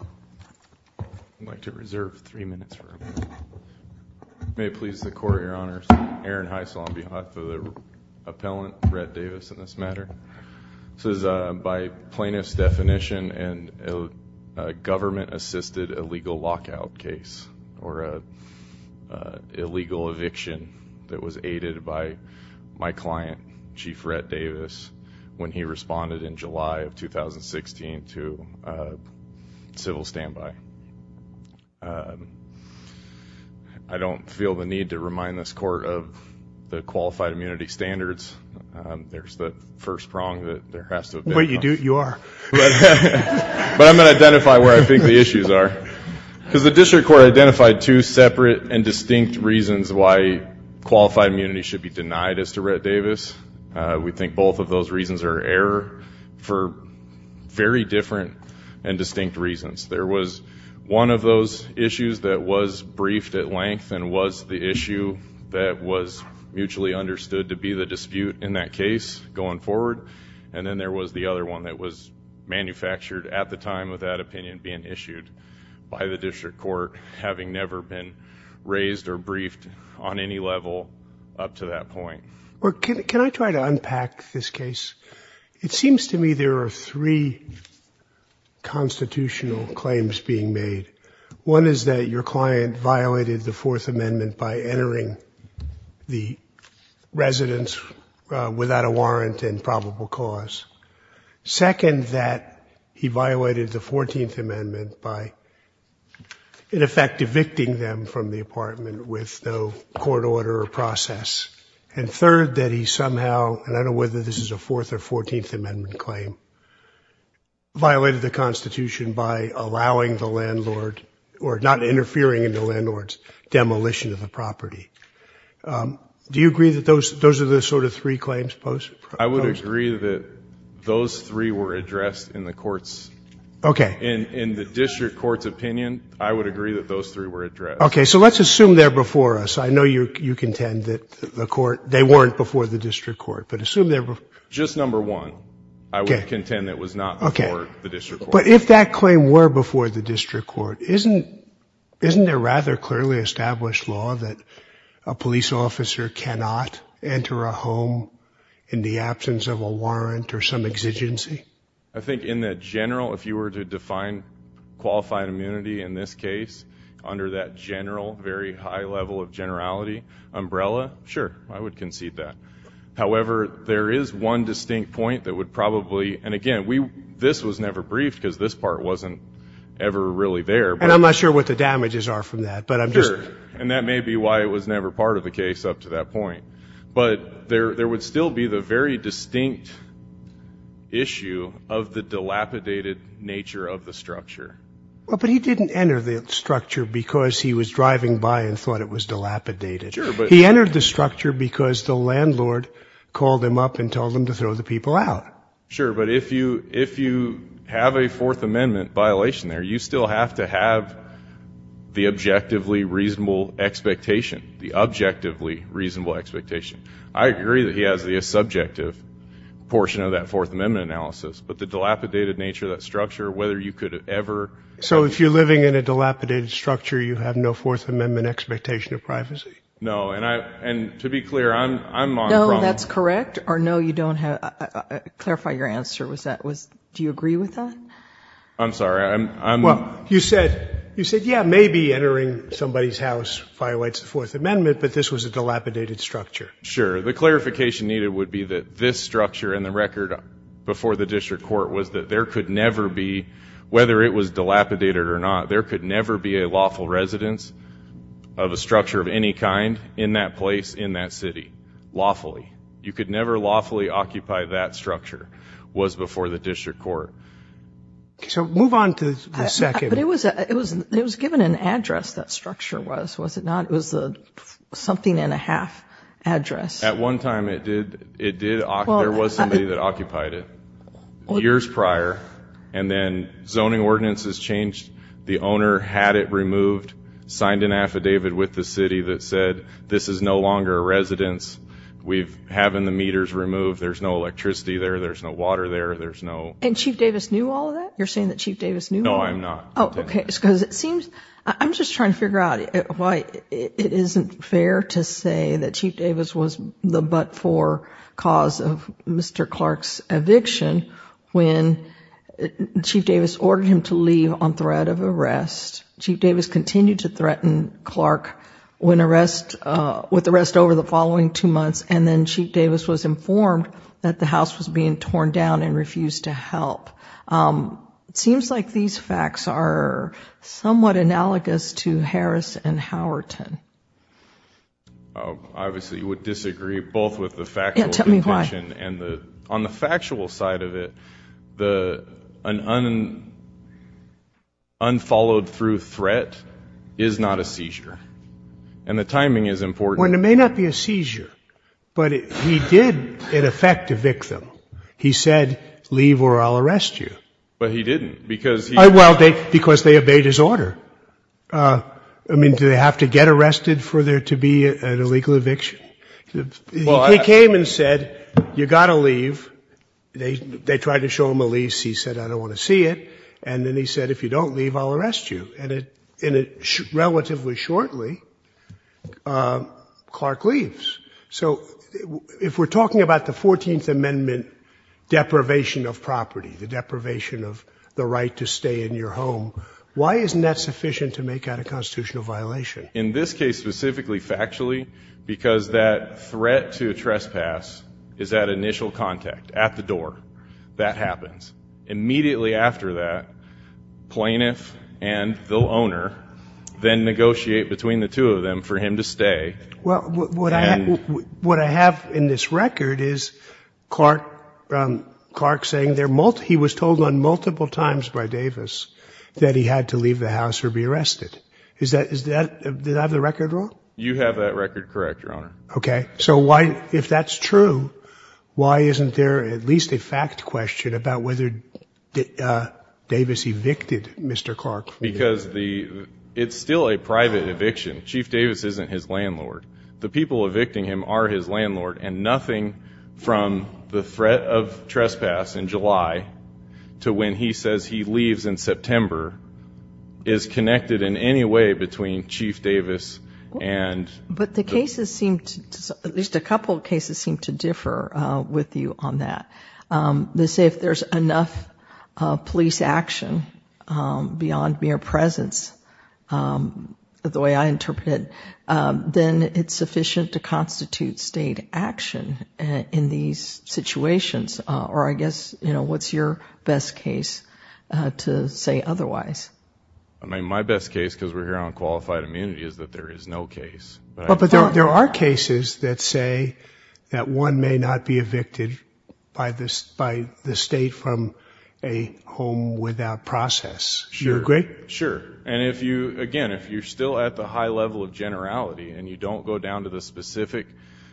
I'd like to reserve three minutes for a moment. May it please the Court, Your Honors. Aaron Heiss on behalf of the appellant, Rhett Davis, in this matter. This is by plaintiff's definition a government-assisted illegal lockout case or an illegal eviction that was aided by my client, Chief Rhett Davis, when he responded in July of 2016 to civil standby. I don't feel the need to remind this Court of the qualified immunity standards. There's the first prong that there has to have been. But you do. You are. But I'm going to identify where I think the issues are because the district court identified two separate and distinct reasons why qualified immunity should be denied as to Rhett Davis. We think both of those reasons are error for very different and distinct reasons. There was one of those issues that was briefed at length and was the issue that was mutually understood to be the dispute in that case going forward. And then there was the other one that was manufactured at the time of that opinion being issued by the district court, having never been raised or briefed on any level up to that point. Can I try to unpack this case? It seems to me there are three constitutional claims being made. One is that your client violated the Fourth Amendment by entering the residence without a warrant and probable cause. Second, that he violated the Fourteenth Amendment by, in effect, evicting them from the apartment with no court order or process. And third, that he somehow, and I don't know whether this is a Fourth or Fourteenth Amendment claim, violated the Constitution by allowing the landlord or not interfering in the landlord's demolition of the property. Do you agree that those are the sort of three claims posed? I would agree that those three were addressed in the courts. Okay. In the district court's opinion, I would agree that those three were addressed. Okay. So let's assume they're before us. I know you contend that they weren't before the district court. Just number one, I would contend it was not before the district court. But if that claim were before the district court, isn't there rather clearly established law that a police officer cannot enter a home in the absence of a warrant or some exigency? I think in the general, if you were to define qualified immunity in this case, under that general, very high level of generality umbrella, sure, I would concede that. However, there is one distinct point that would probably, and again, this was never briefed because this part wasn't ever really there. And I'm not sure what the damages are from that. Sure. And that may be why it was never part of the case up to that point. But there would still be the very distinct issue of the dilapidated nature of the structure. But he didn't enter the structure because he was driving by and thought it was dilapidated. Sure. He entered the structure because the landlord called him up and told him to throw the people out. Sure. But if you have a Fourth Amendment violation there, you still have to have the objectively reasonable expectation, the objectively reasonable expectation. I agree that he has the subjective portion of that Fourth Amendment analysis. But the dilapidated nature of that structure, whether you could ever. So if you're living in a dilapidated structure, you have no Fourth Amendment expectation of privacy? No. And to be clear, I'm on the problem. No, that's correct. Or no, you don't have to clarify your answer. Do you agree with that? I'm sorry. Well, you said, yeah, maybe entering somebody's house violates the Fourth Amendment, but this was a dilapidated structure. Sure. The clarification needed would be that this structure and the record before the district court was that there could never be, whether it was dilapidated or not, there could never be a lawful residence of a structure of any kind in that place in that city lawfully. You could never lawfully occupy that structure was before the district court. So move on to the second. But it was given an address, that structure was, was it not? It was the something and a half address. At one time, it did. It did. There was somebody that occupied it years prior. And then zoning ordinances changed. The owner had it removed, signed an affidavit with the city that said, this is no longer a residence. We've having the meters removed. There's no electricity there. There's no water there. There's no. And Chief Davis knew all of that? You're saying that Chief Davis knew? No, I'm not. Oh, okay. I'm just trying to figure out why it isn't fair to say that Chief Davis was the but-for cause of Mr. Clark's eviction when Chief Davis ordered him to leave on threat of arrest. Chief Davis continued to threaten Clark with arrest over the following two months, and then Chief Davis was informed that the house was being torn down and refused to help. It seems like these facts are somewhat analogous to Harris and Howerton. Obviously, you would disagree both with the factual conclusion. Tell me why. On the factual side of it, an unfollowed through threat is not a seizure. And the timing is important. It may not be a seizure, but he did, in effect, evict them. He said, leave or I'll arrest you. But he didn't because he. Well, because they obeyed his order. I mean, do they have to get arrested for there to be an illegal eviction? He came and said, you've got to leave. They tried to show him a lease. He said, I don't want to see it. And then he said, if you don't leave, I'll arrest you. And relatively shortly, Clark leaves. So if we're talking about the 14th Amendment deprivation of property, the deprivation of the right to stay in your home, why isn't that sufficient to make that a constitutional violation? In this case, specifically factually, because that threat to trespass is that initial contact at the door. That happens. Immediately after that, plaintiff and the owner then negotiate between the two of them for him to stay. Well, what I have in this record is Clark saying he was told on multiple times by Davis that he had to leave the house or be arrested. Did I have the record wrong? You have that record correct, Your Honor. Okay. So if that's true, why isn't there at least a fact question about whether Davis evicted Mr. Clark? Because it's still a private eviction. Chief Davis isn't his landlord. The people evicting him are his landlord, and nothing from the threat of trespass in July to when he says he leaves in September is connected in any way between Chief Davis and the- But the cases seem to, at least a couple of cases, seem to differ with you on that. They say if there's enough police action beyond mere presence, the way I interpret it, then it's sufficient to constitute state action in these situations. Or I guess, you know, what's your best case to say otherwise? I mean, my best case, because we're here on qualified immunity, is that there is no case. But there are cases that say that one may not be evicted by the state from a home without process. Do you agree? Sure. And if you, again, if you're still at the high level of generality and you don't go down to the specific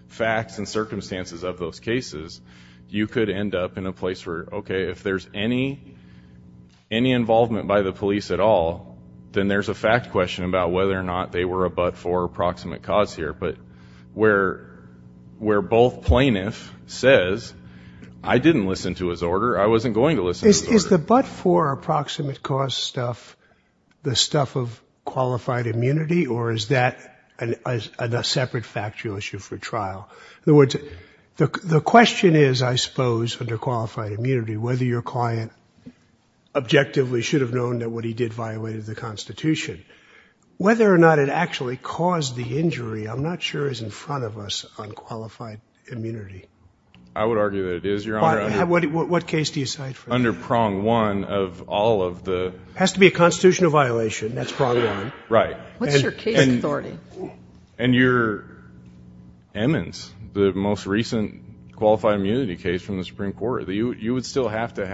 facts and circumstances of those cases, you could end up in a place where, okay, if there's any involvement by the police at all, then there's a fact question about whether or not they were a but-for approximate cause here. But where both plaintiffs says, I didn't listen to his order, I wasn't going to listen to his order. Is the but-for approximate cause stuff the stuff of qualified immunity, or is that a separate factual issue for trial? In other words, the question is, I suppose, under qualified immunity, whether your client objectively should have known that what he did violated the Constitution. Whether or not it actually caused the injury, I'm not sure, is in front of us on qualified immunity. I would argue that it is, Your Honor. What case do you cite for that? Under prong one of all of the. It has to be a constitutional violation. That's prong one. Right. What's your case authority? Emmons, the most recent qualified immunity case from the Supreme Court. You would still have to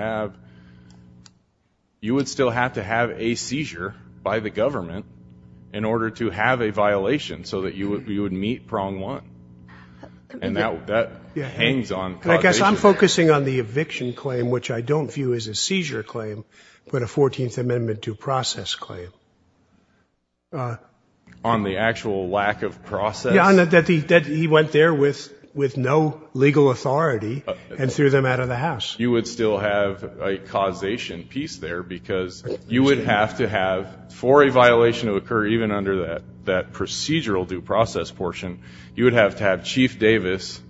have a seizure by the government in order to have a violation so that you would meet prong one. And that hangs on. I guess I'm focusing on the eviction claim, which I don't view as a seizure claim, but a 14th Amendment due process claim. On the actual lack of process? That he went there with no legal authority and threw them out of the house. You would still have a causation piece there because you would have to have, for a violation to occur, even under that procedural due process portion, you would have to have Chief Davis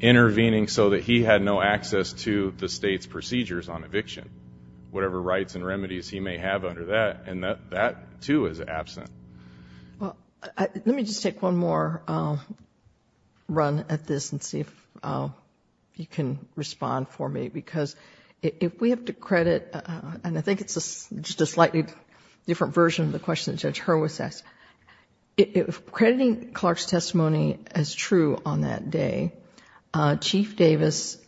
intervening so that he had no access to the state's procedures on eviction, whatever rights and remedies he may have under that. And that, too, is absent. Let me just take one more run at this and see if you can respond for me. Because if we have to credit, and I think it's just a slightly different version of the question that Judge Hurwitz asked, if crediting Clark's testimony as true on that day, Chief Davis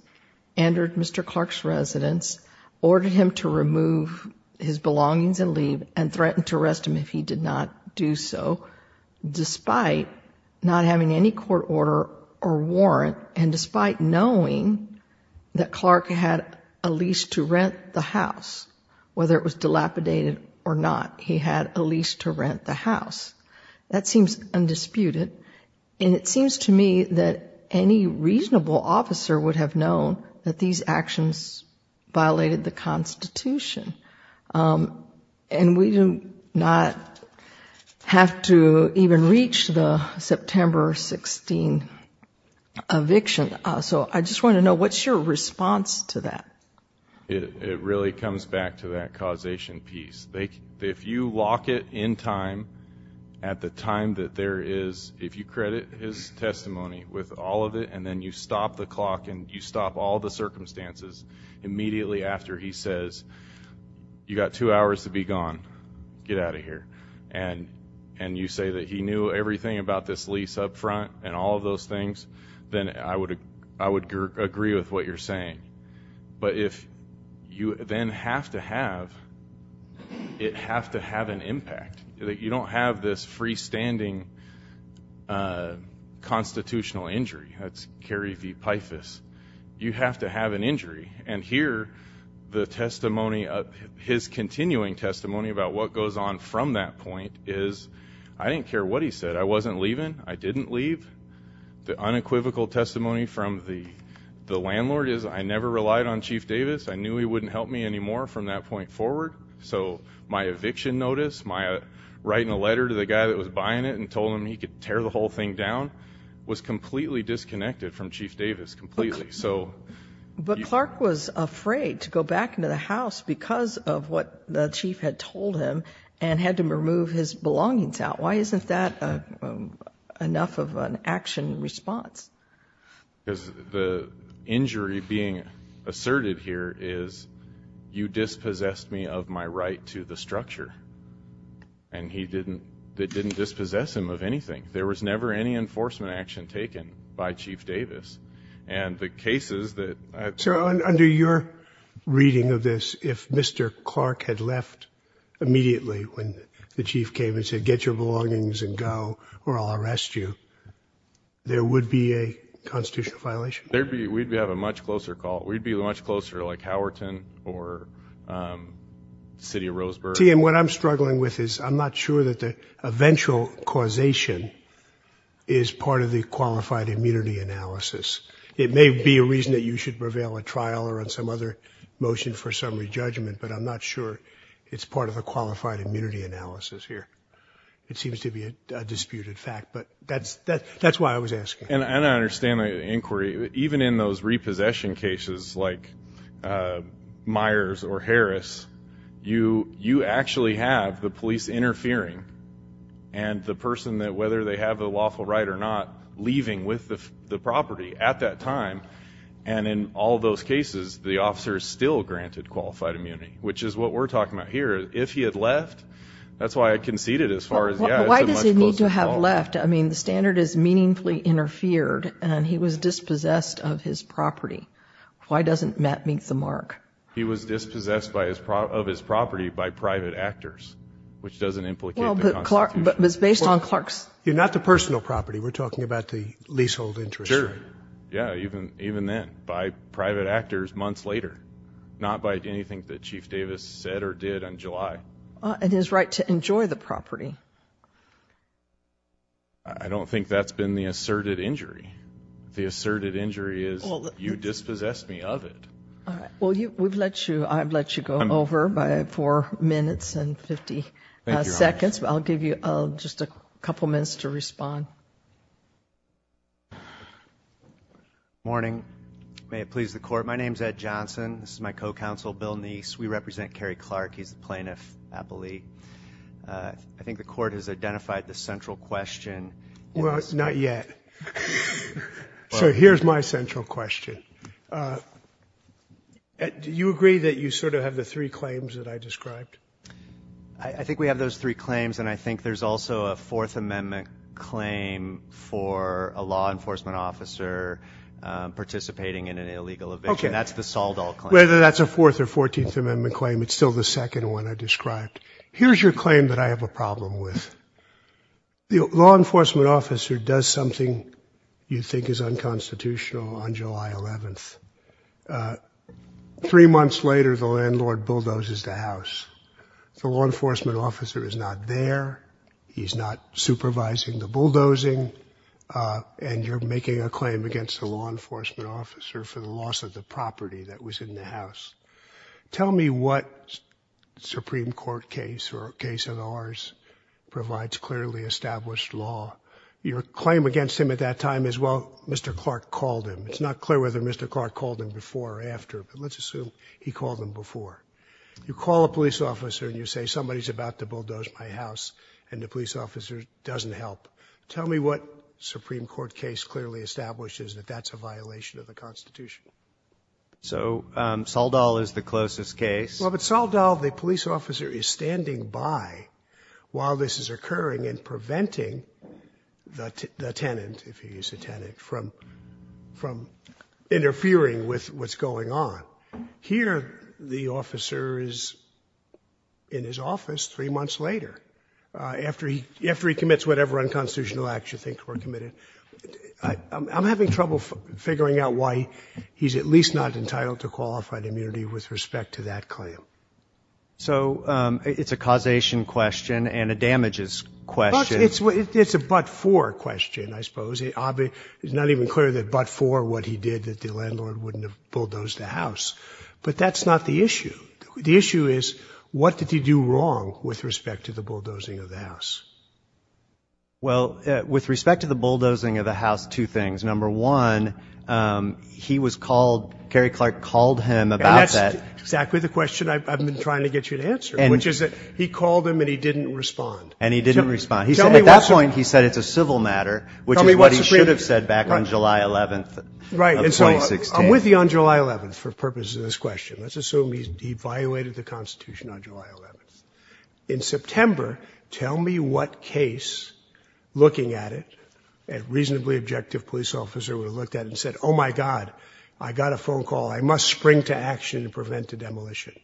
entered Mr. Clark's residence, ordered him to remove his belongings and leave, and threatened to arrest him if he did not do so, despite not having any court order or warrant, and despite knowing that Clark had a lease to rent the house, whether it was dilapidated or not, he had a lease to rent the house. That seems undisputed. And it seems to me that any reasonable officer would have known that these actions violated the Constitution. And we do not have to even reach the September 16 eviction. So I just want to know, what's your response to that? It really comes back to that causation piece. If you lock it in time, at the time that there is, if you credit his testimony with all of it, and then you stop the clock and you stop all the circumstances immediately after he says, you've got two hours to be gone, get out of here, and you say that he knew everything about this lease up front and all of those things, then I would agree with what you're saying. But if you then have to have, it has to have an impact. You don't have this freestanding constitutional injury. That's Kerry v. Pyphus. You have to have an injury. And here, the testimony, his continuing testimony about what goes on from that point is, I didn't care what he said. I wasn't leaving. I didn't leave. The unequivocal testimony from the landlord is, I never relied on Chief Davis. I knew he wouldn't help me anymore from that point forward. So my eviction notice, my writing a letter to the guy that was buying it and told him he could tear the whole thing down, was completely disconnected from Chief Davis, completely. But Clark was afraid to go back into the house because of what the chief had told him and had to remove his belongings out. Why isn't that enough of an action response? Because the injury being asserted here is, you dispossessed me of my right to the structure. And that didn't dispossess him of anything. There was never any enforcement action taken by Chief Davis. And the cases that I've seen. Sir, under your reading of this, if Mr. Clark had left immediately when the chief came and said, get your belongings and go or I'll arrest you, there would be a constitutional violation? We'd have a much closer call. We'd be much closer like Howerton or the city of Roseburg. TM, what I'm struggling with is I'm not sure that the eventual causation is part of the qualified immunity analysis. It may be a reason that you should prevail at trial or on some other motion for summary judgment, but I'm not sure it's part of a qualified immunity analysis here. It seems to be a disputed fact, but that's that's why I was asking. And I understand the inquiry, even in those repossession cases like Myers or Harris, you you actually have the police interfering and the person that whether they have a lawful right or not, leaving with the property at that time. And in all those cases, the officers still granted qualified immunity, which is what we're talking about here. If he had left, that's why I conceded as far as. Why does he need to have left? I mean, the standard is meaningfully interfered and he was dispossessed of his property. Why doesn't that meet the mark? He was dispossessed by his of his property by private actors, which doesn't implicate. Clark was based on Clark's. You're not the personal property. We're talking about the leasehold interest. Sure. Yeah. Even even then by private actors months later, not by anything that Chief Davis said or did in July. It is right to enjoy the property. I don't think that's been the asserted injury. The asserted injury is you dispossessed me of it. Well, we've let you I've let you go over by four minutes and 50 seconds. But I'll give you just a couple minutes to respond. Morning. May it please the court. My name's Ed Johnson. This is my co-counsel, Bill Nice. We represent Kerry Clark. He's the plaintiff. I believe I think the court has identified the central question. Well, it's not yet. So here's my central question. Do you agree that you sort of have the three claims that I described? I think we have those three claims. And I think there's also a Fourth Amendment claim for a law enforcement officer participating in an illegal event. Okay. That's the sold out. Whether that's a fourth or 14th Amendment claim, it's still the second one I described. Here's your claim that I have a problem with. The law enforcement officer does something you think is unconstitutional on July 11th. Three months later, the landlord bulldozes the house. The law enforcement officer is not there. He's not supervising the bulldozing. And you're making a claim against the law enforcement officer for the loss of the property that was in the house. Tell me what Supreme Court case or case of ours provides clearly established law. Your claim against him at that time is, well, Mr. Clark called him. It's not clear whether Mr. Clark called him before or after, but let's assume he called him before. You call a police officer and you say somebody's about to bulldoze my house and the police officer doesn't help. Tell me what Supreme Court case clearly establishes that that's a violation of the Constitution. So Saldal is the closest case. Well, but Saldal, the police officer, is standing by while this is occurring and preventing the tenant, if he is a tenant, from interfering with what's going on. Here the officer is in his office three months later. After he commits whatever unconstitutional acts you think were committed. I'm having trouble figuring out why he's at least not entitled to qualified immunity with respect to that claim. So it's a causation question and a damages question. It's a but for question, I suppose. It's not even clear that but for what he did that the landlord wouldn't have bulldozed the house. But that's not the issue. The issue is what did he do wrong with respect to the bulldozing of the house? Well, with respect to the bulldozing of the house, two things. Number one, he was called, Cary Clark called him about that. And that's exactly the question I've been trying to get you to answer, which is that he called him and he didn't respond. And he didn't respond. He said at that point he said it's a civil matter, which is what he should have said back on July 11th of 2016. Right. And so I'm with you on July 11th for purposes of this question. Let's assume he evaluated the Constitution on July 11th. In September. Tell me what case looking at it and reasonably objective police officer would have looked at and said, oh, my God, I got a phone call. I must spring to action to prevent a demolition.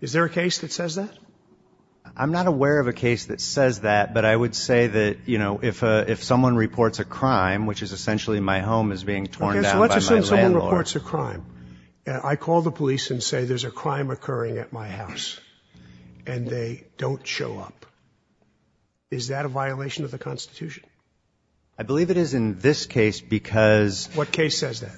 Is there a case that says that I'm not aware of a case that says that. But I would say that, you know, if if someone reports a crime, which is essentially my home is being torn down. Let's assume someone reports a crime. I call the police and say there's a crime occurring at my house and they don't show up. Is that a violation of the Constitution? I believe it is in this case because. What case says that?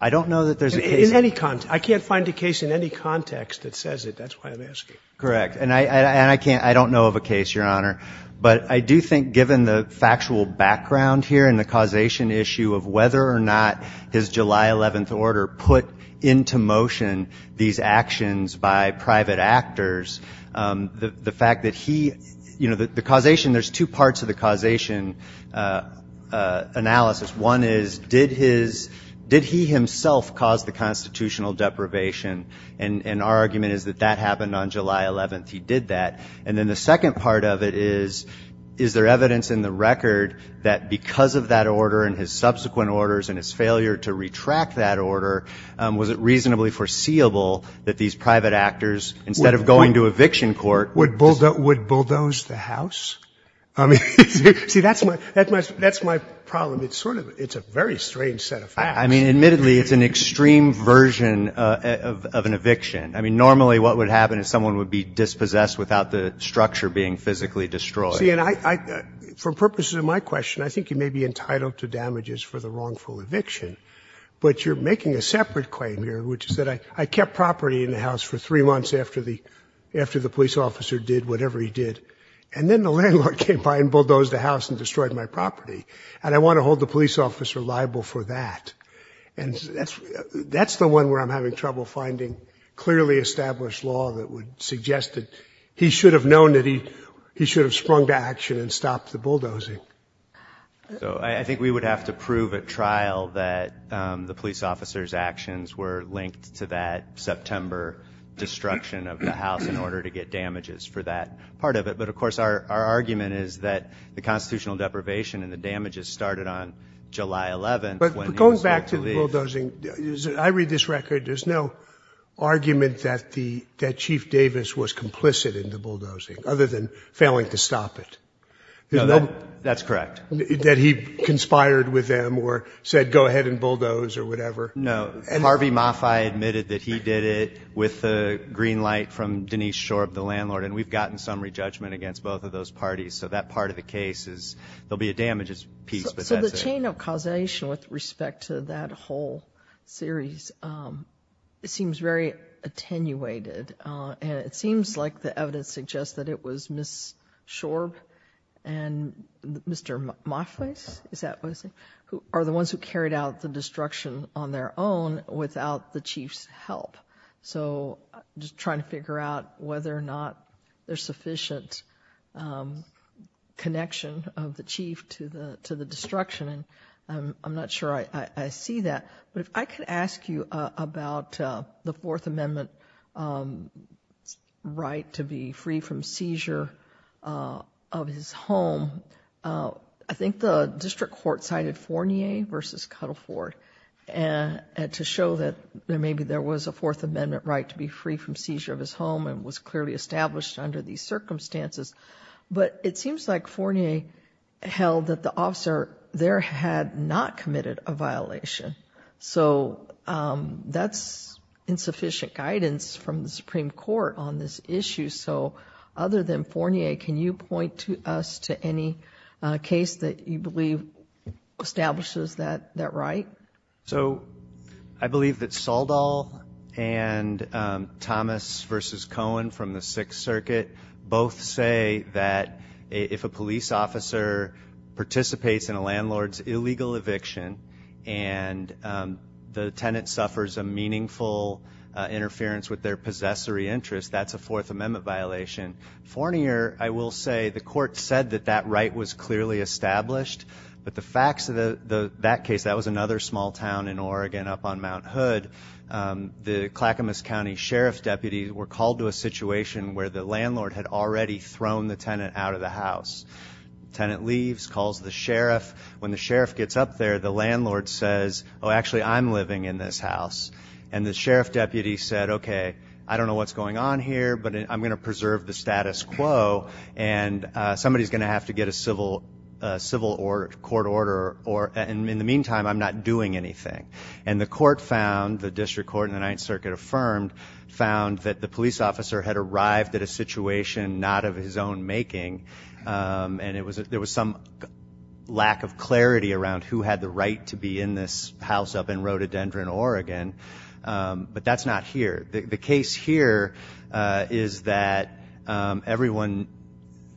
I don't know that there's any. I can't find a case in any context that says it. That's why I'm asking. Correct. And I and I can't I don't know of a case, Your Honor. But I do think given the factual background here and the causation issue of whether or not his July 11th order put into motion these actions by private actors, the fact that he you know, the causation, there's two parts of the causation analysis. One is, did his did he himself cause the constitutional deprivation? And our argument is that that happened on July 11th. He did that. And then the second part of it is, is there evidence in the record that because of that order and his subsequent orders and his failure to retract that order, was it reasonably foreseeable that these private actors, instead of going to eviction court, would bulldoze the house? I mean, see, that's my that's my that's my problem. It's sort of it's a very strange set of facts. I mean, admittedly, it's an extreme version of an eviction. I mean, normally what would happen is someone would be dispossessed without the structure being physically destroyed. And I for purposes of my question, I think you may be entitled to damages for the wrongful eviction. But you're making a separate claim here, which is that I kept property in the house for three months after the after the police officer did whatever he did. And then the landlord came by and bulldozed the house and destroyed my property. And I want to hold the police officer liable for that. And that's that's the one where I'm having trouble finding clearly established law that would suggest that he should have known that he he should have sprung to action and stopped the bulldozing. So I think we would have to prove at trial that the police officer's actions were linked to that September destruction of the house in order to get damages for that part of it. But, of course, our argument is that the constitutional deprivation and the damages started on July 11th. But going back to the bulldozing, I read this record. There's no argument that the that Chief Davis was complicit in the bulldozing other than failing to stop it. You know, that's correct. That he conspired with them or said, go ahead and bulldoze or whatever. No. Harvey Mafai admitted that he did it with the green light from Denise Shorb, the landlord. And we've gotten summary judgment against both of those parties. So that part of the case is there'll be a damages piece. So the chain of causation with respect to that whole series, it seems very attenuated. And it seems like the evidence suggests that it was Ms. Shorb and Mr. Moffitt. Is that who are the ones who carried out the destruction on their own without the chief's help? So just trying to figure out whether or not there's sufficient connection of the chief to the destruction. And I'm not sure I see that. But if I could ask you about the Fourth Amendment right to be free from seizure of his home. I think the district court cited Fournier versus Cuddleford to show that maybe there was a Fourth Amendment right to be free from seizure of his home and was clearly established under these circumstances. But it seems like Fournier held that the officer there had not committed a violation. So that's insufficient guidance from the Supreme Court on this issue. So other than Fournier, can you point us to any case that you believe establishes that right? So I believe that Saldal and Thomas versus Cohen from the Sixth Circuit both say that if a police officer participates in a landlord's illegal eviction and the tenant suffers a meaningful interference with their possessory interest, that's a Fourth Amendment violation. Fournier, I will say, the court said that that right was clearly established. But the facts of that case, that was another small town in Oregon up on Mount Hood. The Clackamas County Sheriff's deputies were called to a situation where the landlord had already thrown the tenant out of the house. Tenant leaves, calls the sheriff. When the sheriff gets up there, the landlord says, oh, actually, I'm living in this house. And the sheriff deputy said, okay, I don't know what's going on here, but I'm going to preserve the status quo. And somebody's going to have to get a civil court order. And in the meantime, I'm not doing anything. And the court found, the district court in the Ninth Circuit affirmed, found that the police officer had arrived at a situation not of his own making. And there was some lack of clarity around who had the right to be in this house up in Rhododendron, Oregon. But that's not here. The case here is that everyone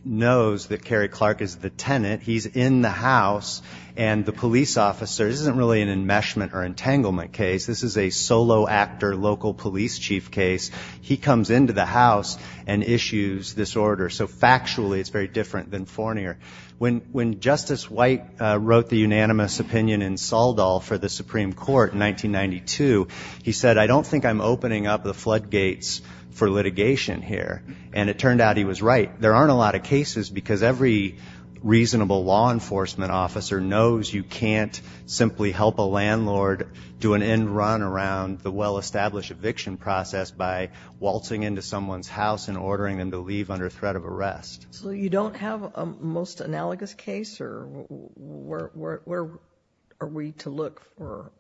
knows that Kerry Clark is the tenant. He's in the house. And the police officer, this isn't really an enmeshment or entanglement case. This is a solo actor local police chief case. He comes into the house and issues this order. So, factually, it's very different than Fournier. When Justice White wrote the unanimous opinion in Saldal for the Supreme Court in 1992, he said, I don't think I'm opening up the floodgates for litigation here. And it turned out he was right. There aren't a lot of cases because every reasonable law enforcement officer knows you can't simply help a landlord do an end run around the well-established eviction process by waltzing into someone's house and ordering them to leave under threat of arrest. So you don't have a most analogous case? Or where are we to look for?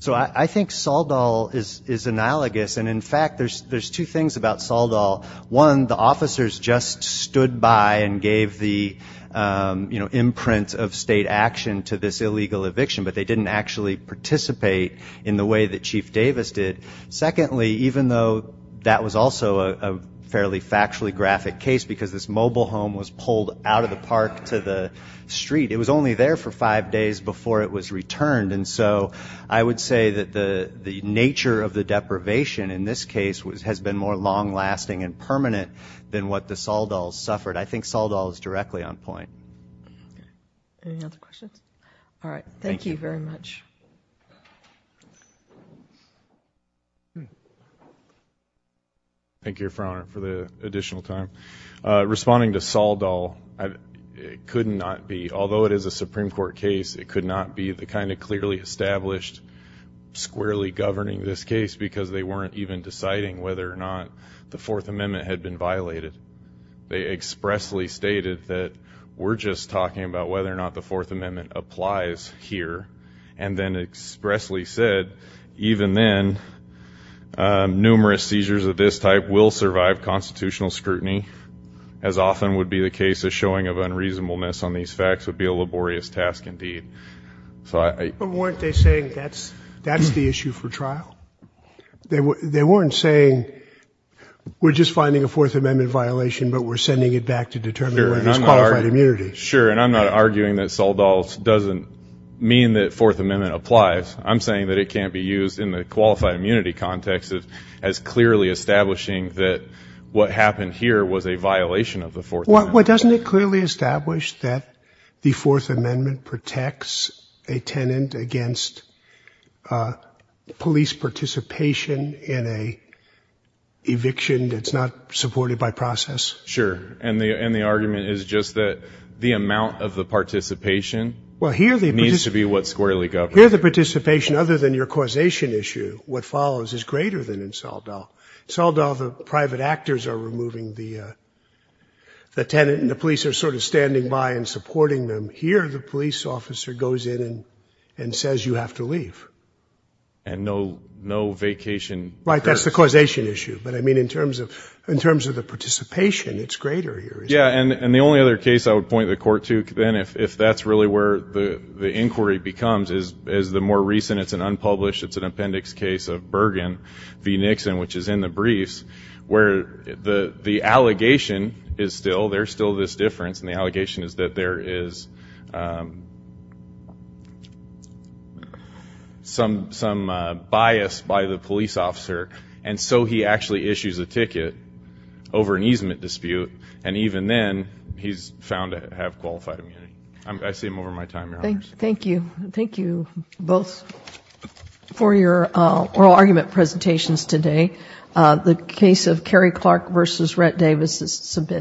So I think Saldal is analogous. And, in fact, there's two things about Saldal. One, the officers just stood by and gave the imprint of state action to this illegal eviction, but they didn't actually participate in the way that Chief Davis did. Secondly, even though that was also a fairly factually graphic case because this mobile home was pulled out of the park to the street, it was only there for five days before it was returned. And so I would say that the nature of the deprivation in this case has been more long-lasting and permanent than what the Saldals suffered. I think Saldal is directly on point. Any other questions? All right. Thank you very much. Thank you, Your Honor, for the additional time. Responding to Saldal, it could not be. Although it is a Supreme Court case, it could not be the kind of clearly established, squarely governing this case because they weren't even deciding whether or not the Fourth Amendment had been violated. They expressly stated that we're just talking about whether or not the Fourth Amendment applies here, and then expressly said, even then, numerous seizures of this type will survive constitutional scrutiny. As often would be the case, a showing of unreasonableness on these facts would be a laborious task indeed. But weren't they saying that's the issue for trial? They weren't saying we're just finding a Fourth Amendment violation, but we're sending it back to determine whether it's qualified immunity. Sure, and I'm not arguing that Saldal doesn't mean that Fourth Amendment applies. I'm saying that it can't be used in the qualified immunity context as clearly establishing that what happened here was a violation of the Fourth Amendment. Well, doesn't it clearly establish that the Fourth Amendment protects a tenant against police participation in an eviction that's not supported by process? Sure, and the argument is just that the amount of the participation needs to be what's squarely governed. Well, here the participation, other than your causation issue, what follows is greater than in Saldal. Saldal, the private actors are removing the tenant, and the police are sort of standing by and supporting them. Here the police officer goes in and says you have to leave. And no vacation occurs. Right, that's the causation issue. But I mean in terms of the participation, it's greater here, isn't it? Yeah, and the only other case I would point the court to then, if that's really where the inquiry becomes, is the more recent, it's an unpublished, it's an appendix case of Bergen v. Nixon, which is in the briefs where the allegation is still, there's still this difference, and the allegation is that there is some bias by the police officer, and so he actually issues a ticket over an easement dispute, and even then he's found to have qualified immunity. Thank you. Thank you both for your oral argument presentations today. The case of Kerry Clark v. Rhett Davis is submitted.